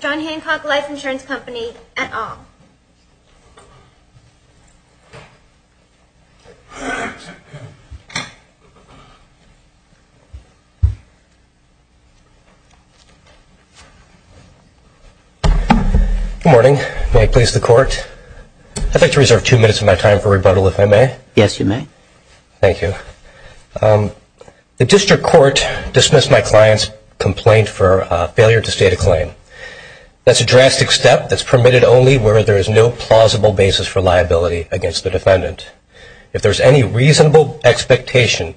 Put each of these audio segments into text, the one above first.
Good morning. May I please the court? I'd like to reserve two minutes of my time for rebuttal if I may. Yes, you may. Thank you. The district court dismissed my client's complaint for failure to state a claim. That's a drastic step that's permitted only where there is no plausible basis for liability against the defendant. If there's any reasonable expectation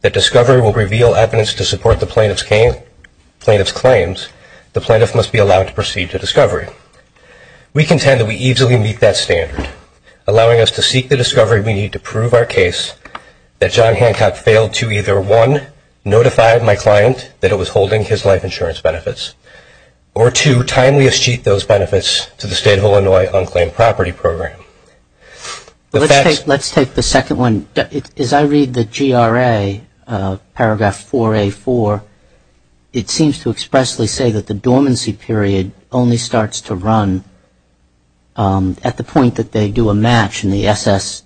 that discovery will reveal evidence to support the plaintiff's claims, the plaintiff must be allowed to proceed to discovery. We contend that we easily meet that standard, allowing us to seek the discovery we need to prove our case that John Hancock failed to either one, notify my client that it was holding his life insurance benefits, or two, timely achieve those benefits to the state of Illinois on claim property program. Let's take the second one. As I read the GRA paragraph 4A4, it seems to expressly say that the dormancy period only starts to run at the point that they do a match in the SS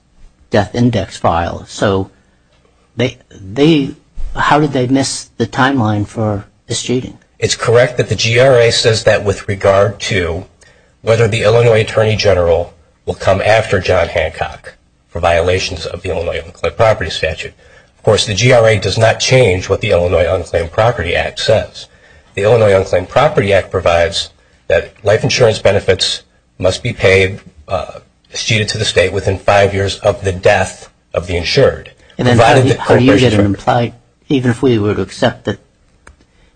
death How did they miss the timeline for misjudging? It's correct that the GRA says that with regard to whether the Illinois Attorney General will come after John Hancock for violations of the Illinois on claim property statute. Of course, the GRA does not change what the Illinois on claim property act says. The Illinois on claim property act provides that life insurance benefits must be paid, misjudged to the state within five years of the death of the insured. And how do you get an implied, even if we were to accept that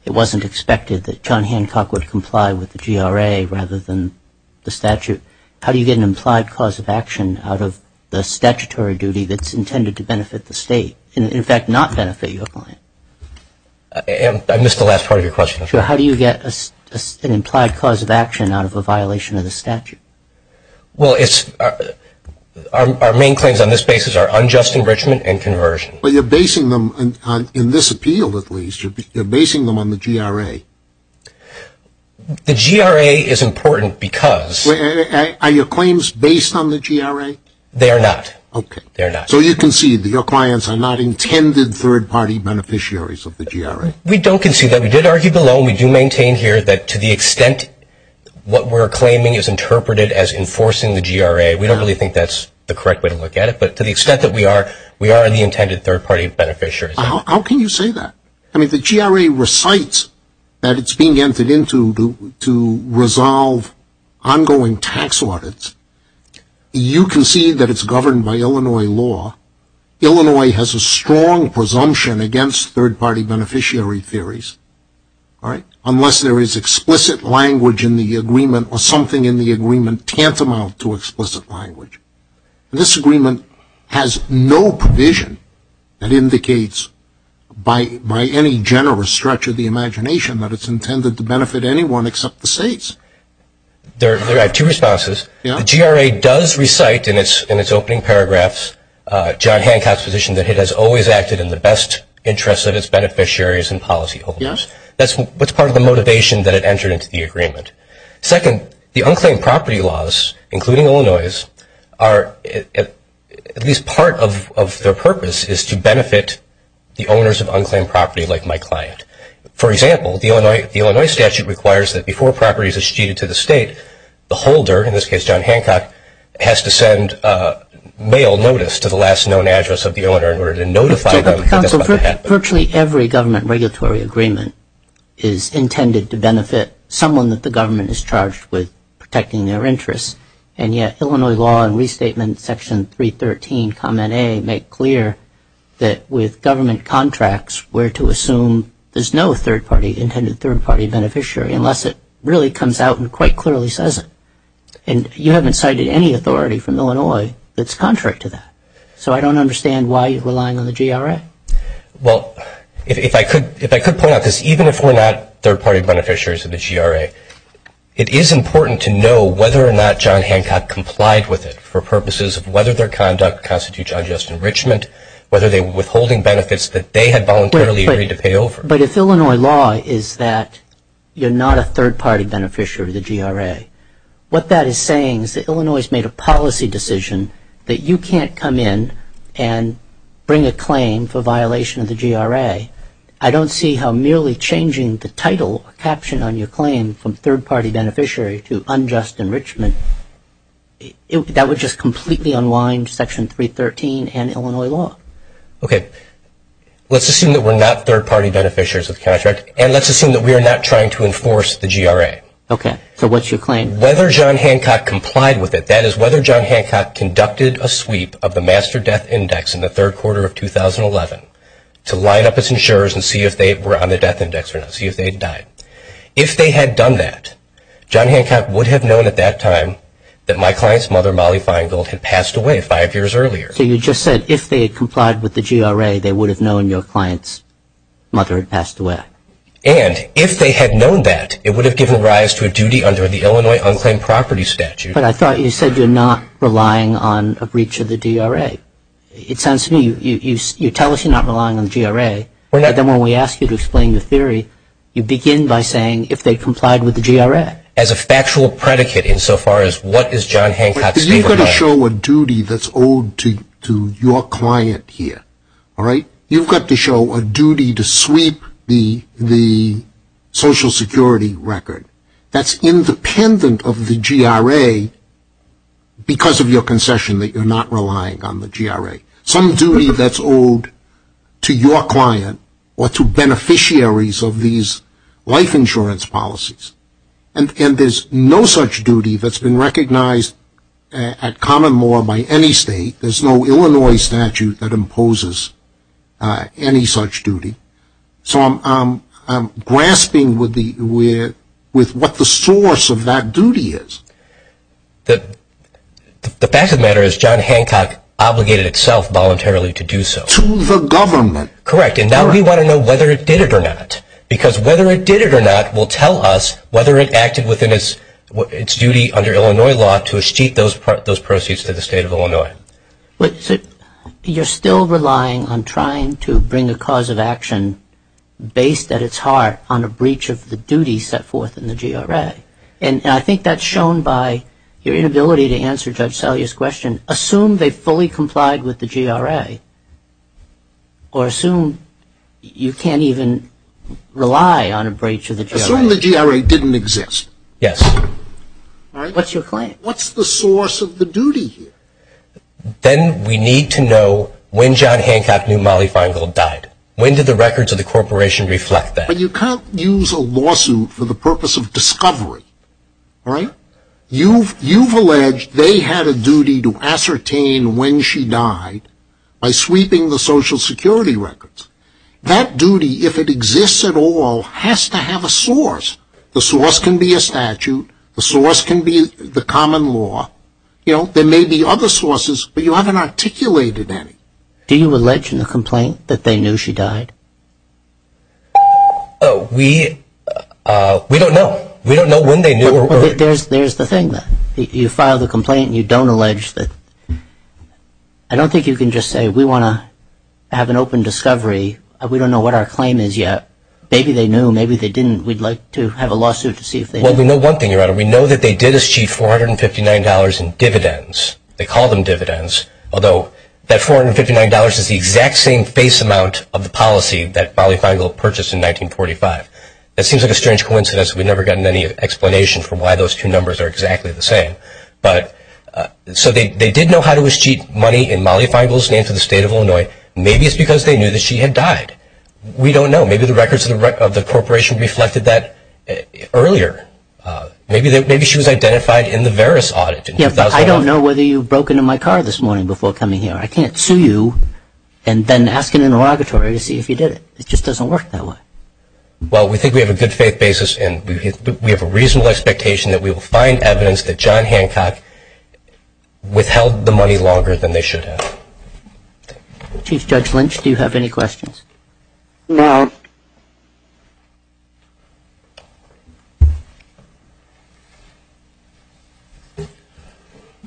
it wasn't expected that John Hancock would comply with the GRA rather than the statute, how do you get an implied cause of action out of the statutory duty that's intended to benefit the state, and in fact not benefit your client? I missed the last part of your question. Sure. How do you get an implied cause of action out of a violation of the statute? Well, it's, our main claims on this basis are unjust enrichment and conversion. But you're basing them, in this appeal at least, you're basing them on the GRA. The GRA is important because... Are your claims based on the GRA? They are not. Okay. So you concede that your clients are not intended third party beneficiaries of the GRA? We don't concede that. We did argue below and we do maintain here that to the extent what we're claiming is interpreted as enforcing the GRA, we don't really think that's the correct way to look at it. But to the extent that we are, we are the intended third party beneficiaries. How can you say that? I mean, the GRA recites that it's being entered into to resolve ongoing tax audits. You concede that it's governed by Illinois law. Illinois has a strong presumption against third party beneficiary theories. Unless there is explicit language in the agreement or something in the agreement tantamount to explicit language. This agreement has no provision that indicates by any generous stretch of the imagination that it's intended to benefit anyone except the states. There are two responses. The GRA does recite in its opening paragraphs, John Hancock's position, that it has always acted in the best interest of its beneficiaries and policyholders. That's part of the motivation that it entered into the agreement. Second, the unclaimed property laws, including Illinois', are at least part of their purpose is to benefit the owners of unclaimed property like my client. For example, the Illinois statute requires that before property is acceded to the state, the holder, in this case John Hancock, has to send a mail notice to the last known address of the owner in order to notify them that that's about to happen. But Jacob, virtually every government regulatory agreement is intended to benefit someone that the government is charged with protecting their interests. And yet Illinois law and restatement section 313, comment A, make clear that with government contracts, we're to assume there's no third party, intended third party beneficiary unless it really comes out and quite clearly says it. And you haven't cited any authority from Illinois that's contrary to that. So I don't understand why you're relying on the GRA. Well, if I could point out this, even if we're not third party beneficiaries of the GRA, it is important to know whether or not John Hancock complied with it for purposes of whether their conduct constitutes unjust enrichment, whether they were withholding benefits that they had voluntarily agreed to pay over. But if Illinois law is that you're not a third party beneficiary of the GRA, what that is saying is that Illinois has made a policy decision that you can't come in and bring a claim for violation of the GRA. I don't see how merely changing the title or caption on your claim from third party beneficiary to unjust enrichment, that would just completely unwind section 313 and Illinois law. Okay. Let's assume that we're not third party beneficiaries of the contract and let's assume that we are not trying to enforce the GRA. Okay. So what's your claim? Whether John Hancock complied with it, that is whether John Hancock conducted a sweep of the Master Death Index in the third quarter of 2011 to line up his insurers and see if they were on the death index or not, see if they had died. If they had done that, John Hancock would have known at that time that my client's mother, Molly Feingold, had passed away five years earlier. So you just said if they had complied with the GRA, they would have known your client's mother had passed away. And if they had known that, it would have given rise to a duty under the Illinois unclaimed property statute. But I thought you said you're not relying on a breach of the GRA. It sounds to me you tell us you're not relying on the GRA, but then when we ask you to explain the theory, you begin by saying if they complied with the GRA. As a factual predicate in so far as what is John Hancock's claim. You've got to show a duty that's owed to your client here. You've got to show a duty to sweep the Social Security record that's independent of the GRA because of your concession that you're not relying on the GRA. Some duty that's owed to your client or to beneficiaries of these life insurance policies. And there's no such duty that's been recognized at common law by any state. There's no Illinois statute that imposes any such duty. So I'm grasping with what the source of that duty is. The fact of the matter is John Hancock obligated itself voluntarily to do so. To the government. Correct. And now we want to know whether it did it or not. Because whether it did it or not will tell us whether it acted within its duty under Illinois law to achieve those proceeds to the state of Illinois. You're still relying on trying to bring a cause of action based at its heart on a breach of the duty set forth in the GRA. And I think that's shown by your inability to answer Judge Salyer's question. Assume they fully complied with the GRA. Or assume you can't even rely on a breach of the GRA. Assume the GRA didn't exist. Yes. What's your claim? What's the source of the duty here? Then we need to know when John Hancock knew Molly Feingold died. When did the records of the corporation reflect that? But you can't use a lawsuit for the purpose of discovery. You've alleged they had a duty to ascertain when she died by sweeping the Social Security records. That duty, if it exists at all, has to have a source. The source can be a statute. The source can be the common law. There may be other sources, but you haven't articulated any. Do you allege in the complaint that they knew she died? We don't know. We don't know when they knew. There's the thing. You file the complaint and you don't allege that. I don't think you can just say we want to have an open discovery. We don't know what our claim is yet. Maybe they knew. Maybe they didn't. We'd like to have a lawsuit to see if they knew. Well, we know one thing, Your Honor. We know that they did achieve $459 in dividends. They call them dividends. Although that $459 is the exact same face amount of the policy that Molly Feingold purchased in 1945. That seems like a strange coincidence. We've never gotten any explanation for why those two numbers are exactly the same. So they did know how to achieve money in Molly Feingold's name for the State of Illinois. Maybe it's because they knew that she had died. We don't know. Maybe the records of the corporation reflected that earlier. Maybe she was identified in the Veris audit. I don't know whether you broke into my car this morning before coming here. I can't sue you and then ask an interrogatory to see if you did it. It just doesn't work that way. Well, we think we have a good faith basis. We have a reasonable expectation that we will find evidence that John Hancock withheld the money longer than they should have. Chief Judge Lynch, do you have any questions? No.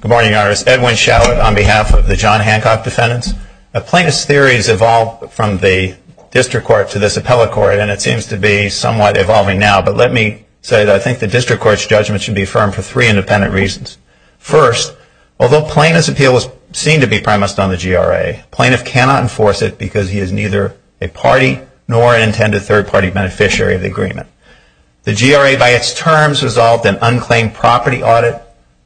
Good morning, Your Honor. It's Edwin Shallott on behalf of the John Hancock defendants. Plaintiff's theory has evolved from the district court to this appellate court, and it seems to be somewhat evolving now. But let me say that I think the district court's judgment should be affirmed for three independent reasons. First, although plaintiff's appeal was seen to be premised on the GRA, plaintiff cannot enforce it because he is neither a party nor an intended third-party beneficiary of the agreement. The GRA, by its terms, resolved an unclaimed property audit.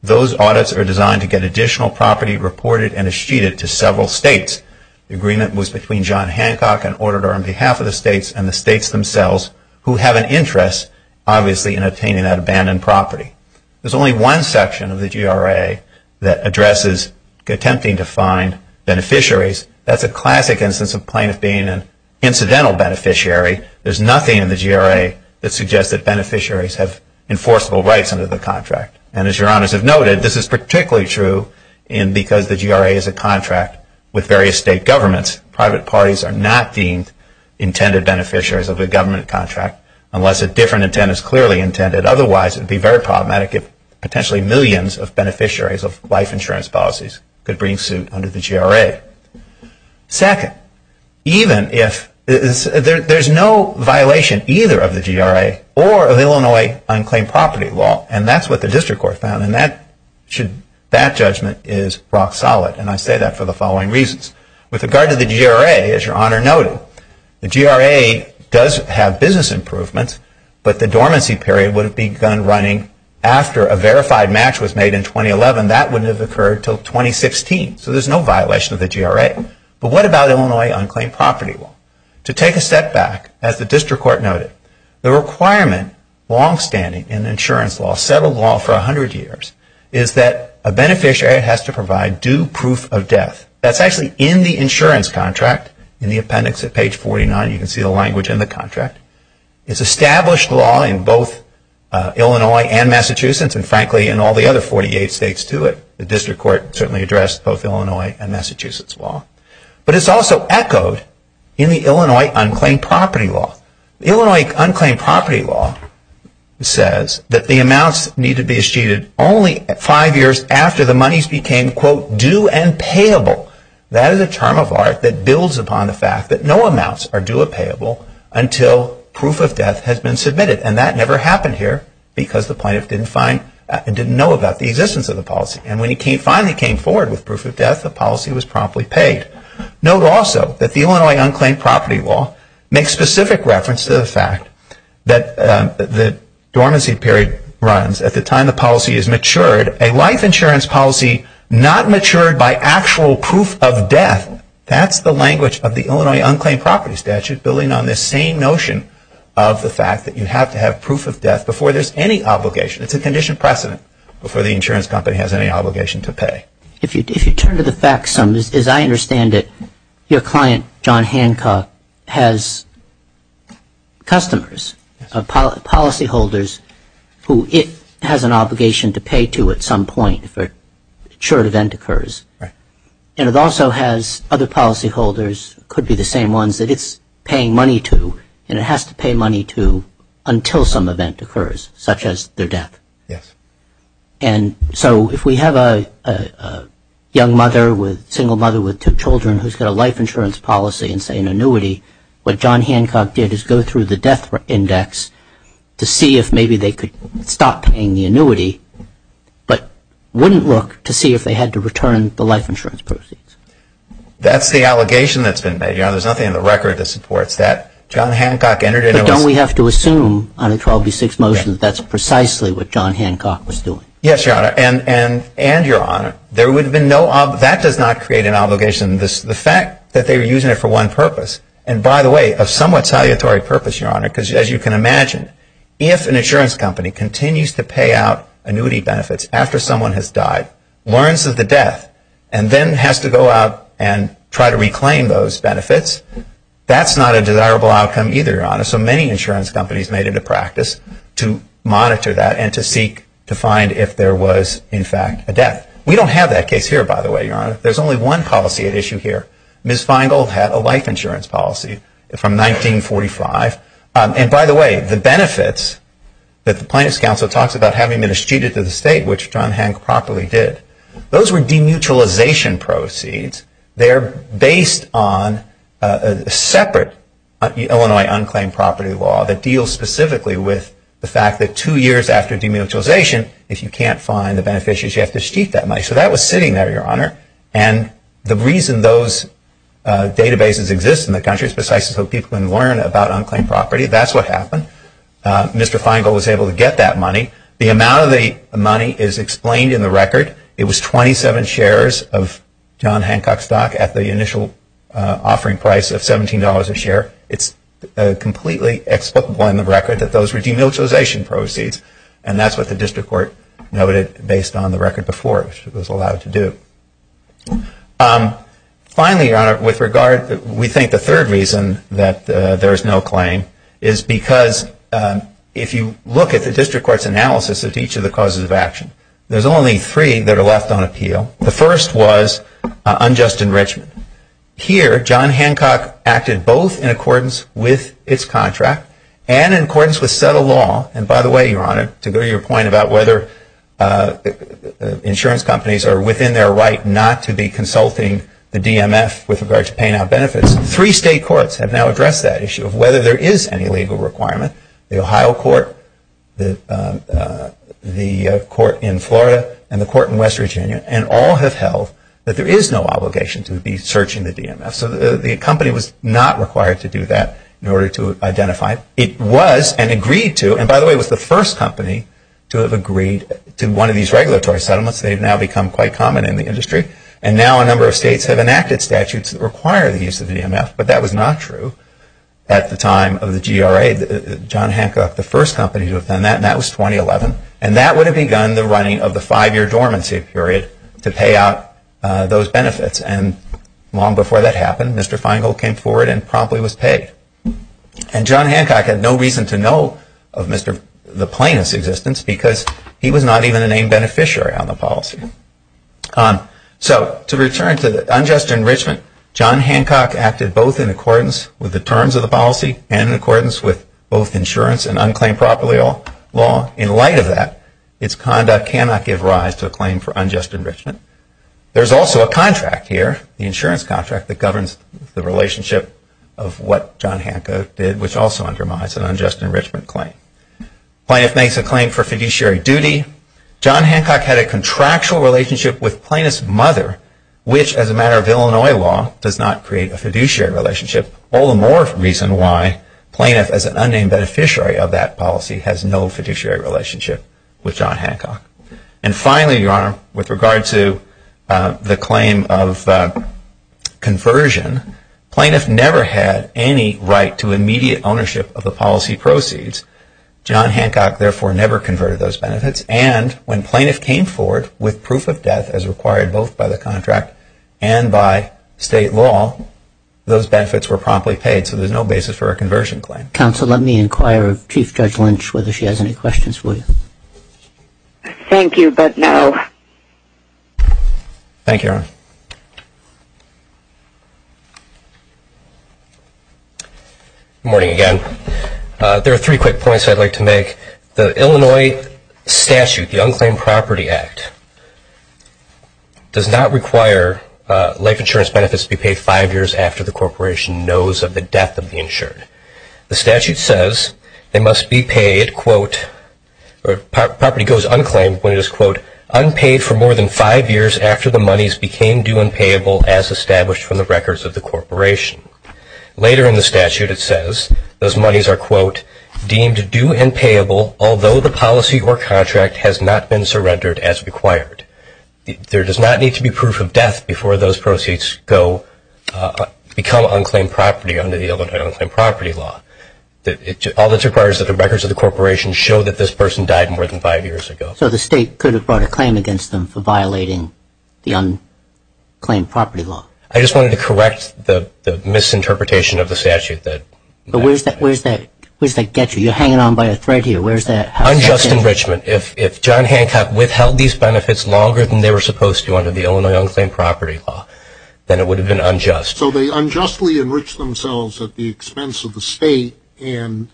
Those audits are designed to get additional property reported and sheeted to several states. The agreement was between John Hancock, an auditor on behalf of the states, and the states themselves, who have an interest, obviously, in obtaining that abandoned property. There's only one section of the GRA that addresses attempting to find beneficiaries. That's a classic instance of plaintiff being an incidental beneficiary. There's nothing in the GRA that suggests that beneficiaries have enforceable rights under the contract. And as Your Honors have noted, this is particularly true because the GRA is a contract with various state governments. Private parties are not deemed intended beneficiaries of a government contract unless a different intent is clearly intended. Otherwise, it would be very problematic if potentially millions of beneficiaries of life insurance policies could bring suit under the GRA. Second, there's no violation either of the GRA or of Illinois unclaimed property law. And that's what the district court found, and that judgment is rock solid. And I say that for the following reasons. With regard to the GRA, as Your Honor noted, the GRA does have business improvements, but the dormancy period would have begun running after a verified match was made in 2011. That wouldn't have occurred until 2016, so there's no violation of the GRA. But what about Illinois unclaimed property law? To take a step back, as the district court noted, the requirement, longstanding in insurance law, settled law for 100 years, is that a beneficiary has to provide due proof of death. That's actually in the insurance contract, in the appendix at page 49. You can see the language in the contract. It's established law in both Illinois and Massachusetts, and frankly, in all the other 48 states, too. The district court certainly addressed both Illinois and Massachusetts law. But it's also echoed in the Illinois unclaimed property law. Illinois unclaimed property law says that the amounts need to be sheeted only five years after the monies became, quote, That is a term of art that builds upon the fact that no amounts are due or payable until proof of death has been submitted. And that never happened here because the plaintiff didn't know about the existence of the policy. And when he finally came forward with proof of death, the policy was promptly paid. Note also that the Illinois unclaimed property law makes specific reference to the fact that the dormancy period runs at the time the policy is matured, a life insurance policy not matured by actual proof of death. That's the language of the Illinois unclaimed property statute, building on this same notion of the fact that you have to have proof of death before there's any obligation. It's a condition precedent before the insurance company has any obligation to pay. If you turn to the facts, as I understand it, your client, John Hancock, has customers, policyholders, who it has an obligation to pay to at some point if a short event occurs. And it also has other policyholders, could be the same ones that it's paying money to, and it has to pay money to until some event occurs, such as their death. And so if we have a young mother, a single mother with two children, who's got a life insurance policy and, say, an annuity, what John Hancock did is go through the death index to see if maybe they could stop paying the annuity, but wouldn't look to see if they had to return the life insurance proceeds. That's the allegation that's been made. There's nothing in the record that supports that. But don't we have to assume on a 12B6 motion that that's precisely what John Hancock was doing? Yes, Your Honor. And, Your Honor, that does not create an obligation. The fact that they were using it for one purpose, and, by the way, a somewhat salutary purpose, Your Honor, because, as you can imagine, if an insurance company continues to pay out annuity benefits after someone has died, learns of the death, and then has to go out and try to reclaim those benefits, that's not a desirable outcome either, Your Honor. So many insurance companies made it a practice to monitor that and to seek to find if there was, in fact, a death. We don't have that case here, by the way, Your Honor. There's only one policy at issue here. Ms. Feingold had a life insurance policy from 1945. And, by the way, the benefits that the Plaintiffs' Council talks about, having been eschewed into the state, which John Hancock properly did, those were demutualization proceeds. They are based on a separate Illinois unclaimed property law that deals specifically with the fact that two years after demutualization, if you can't find the beneficiaries, you have to seek that money. So that was sitting there, Your Honor. And the reason those databases exist in the country is precisely so people can learn about unclaimed property. That's what happened. Mr. Feingold was able to get that money. The amount of the money is explained in the record. It was 27 shares of John Hancock stock at the initial offering price of $17 a share. It's completely explicable in the record that those were demutualization proceeds, and that's what the district court noted based on the record before it was allowed to do. Finally, Your Honor, with regard, we think the third reason that there is no claim is because if you look at the district court's analysis of each of the causes of action, there's only three that are left on appeal. The first was unjust enrichment. Here, John Hancock acted both in accordance with its contract and in accordance with settled law. And by the way, Your Honor, to go to your point about whether insurance companies are within their right not to be consulting the DMF with regard to paying out benefits, three state courts have now addressed that issue of whether there is any legal requirement. The Ohio court, the court in Florida, and the court in West Virginia, and all have held that there is no obligation to be searching the DMF. So the company was not required to do that in order to identify it. It was and agreed to, and by the way, it was the first company to have agreed to one of these regulatory settlements. They've now become quite common in the industry. And now a number of states have enacted statutes that require the use of DMF, but that was not true at the time of the GRA. John Hancock, the first company to have done that, and that was 2011. And that would have begun the running of the five-year dormancy period to pay out those benefits. And long before that happened, Mr. Feingold came forward and promptly was paid. And John Hancock had no reason to know of the plaintiff's existence because he was not even a named beneficiary on the policy. So to return to the unjust enrichment, John Hancock acted both in accordance with the terms of the policy and in accordance with both insurance and unclaimed property law. In light of that, its conduct cannot give rise to a claim for unjust enrichment. There's also a contract here, the insurance contract, that governs the relationship of what John Hancock did, which also undermines an unjust enrichment claim. The plaintiff makes a claim for fiduciary duty. John Hancock had a contractual relationship with plaintiff's mother, which, as a matter of Illinois law, does not create a fiduciary relationship. All the more reason why plaintiff, as an unnamed beneficiary of that policy, has no fiduciary relationship with John Hancock. And finally, Your Honor, with regard to the claim of conversion, plaintiff never had any right to immediate ownership of the policy proceeds. John Hancock, therefore, never converted those benefits. And when plaintiff came forward with proof of death, as required both by the contract and by state law, those benefits were promptly paid, so there's no basis for a conversion claim. Counsel, let me inquire of Chief Judge Lynch whether she has any questions for you. Thank you, but no. Thank you, Your Honor. Good morning again. There are three quick points I'd like to make. The Illinois statute, the Unclaimed Property Act, does not require life insurance benefits to be paid five years after the corporation knows of the death of the insured. The statute says they must be paid, quote, or property goes unclaimed when it is, quote, unpaid for more than five years after the monies became due and payable as established from the records of the corporation. Later in the statute it says those monies are, quote, deemed due and payable although the policy or contract has not been surrendered as required. There does not need to be proof of death before those proceeds go, become unclaimed property under the Illinois unclaimed property law. All that's required is that the records of the corporation show that this person died more than five years ago. So the state could have brought a claim against them for violating the unclaimed property law. I just wanted to correct the misinterpretation of the statute. But where's that get you? You're hanging on by a thread here. Where's that? Unjust enrichment. If John Hancock withheld these benefits longer than they were supposed to under the Illinois unclaimed property law, then it would have been unjust. So they unjustly enriched themselves at the expense of the state and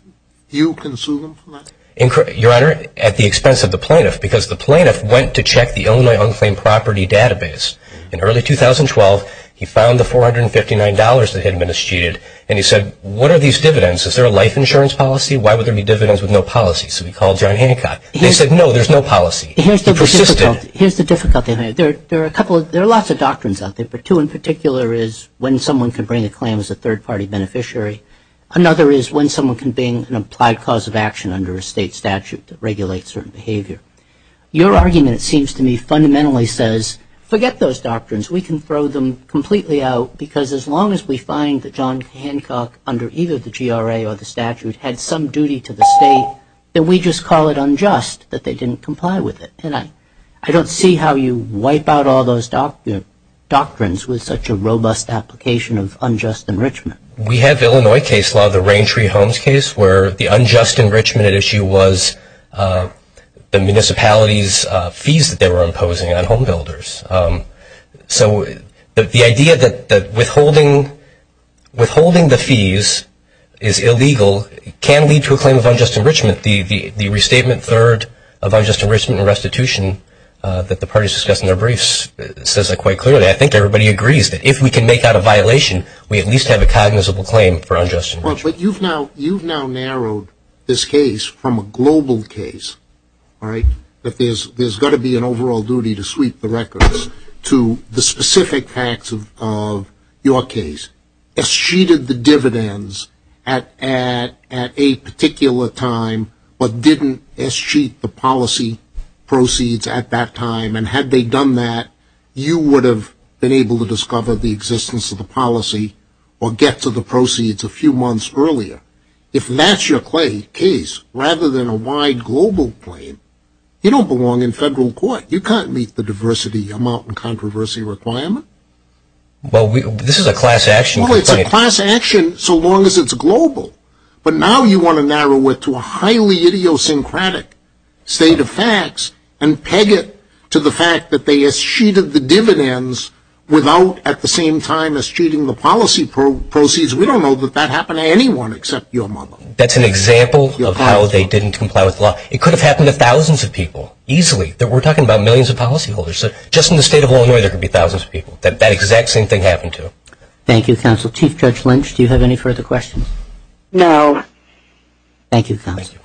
you can sue them for that? Your Honor, at the expense of the plaintiff, because the plaintiff went to check the Illinois unclaimed property database in early 2012 he found the $459 that had been eschewed and he said, what are these dividends? Is there a life insurance policy? Why would there be dividends with no policy? So he called John Hancock. They said, no, there's no policy. Here's the difficulty. There are lots of doctrines out there, but two in particular is when someone can bring a claim as a third-party beneficiary. Another is when someone can bring an applied cause of action under a state statute that regulates certain behavior. Your argument, it seems to me, fundamentally says forget those doctrines. We can throw them completely out because as long as we find that John Hancock, under either the GRA or the statute, had some duty to the state, then we just call it unjust that they didn't comply with it. And I don't see how you wipe out all those doctrines with such a robust application of unjust enrichment. We have Illinois case law, the Raintree Homes case, where the unjust enrichment at issue was the municipality's fees that they were imposing on home builders. So the idea that withholding the fees is illegal can lead to a claim of unjust enrichment. The restatement third of unjust enrichment and restitution that the parties discussed in their briefs says that quite clearly. I think everybody agrees that if we can make out a violation, we at least have a cognizable claim for unjust enrichment. Well, but you've now narrowed this case from a global case, all right, that there's got to be an overall duty to sweep the records to the specific facts of your case. If she did the dividends at a particular time but didn't as sheet the policy proceeds at that time, and had they done that, you would have been able to discover the existence of the policy or get to the proceeds a few months earlier. If that's your case, rather than a wide global claim, you don't belong in federal court. You can't meet the diversity amount and controversy requirement. Well, this is a class action complaint. Well, it's a class action so long as it's global. But now you want to narrow it to a highly idiosyncratic state of facts and peg it to the fact that they as sheeted the dividends without at the same time as sheeting the policy proceeds. We don't know that that happened to anyone except your mother. That's an example of how they didn't comply with the law. It could have happened to thousands of people easily. We're talking about millions of policyholders. Just in the state of Illinois, there could be thousands of people that that exact same thing happened to. Thank you, counsel. Chief Judge Lynch, do you have any further questions? No. Thank you, counsel.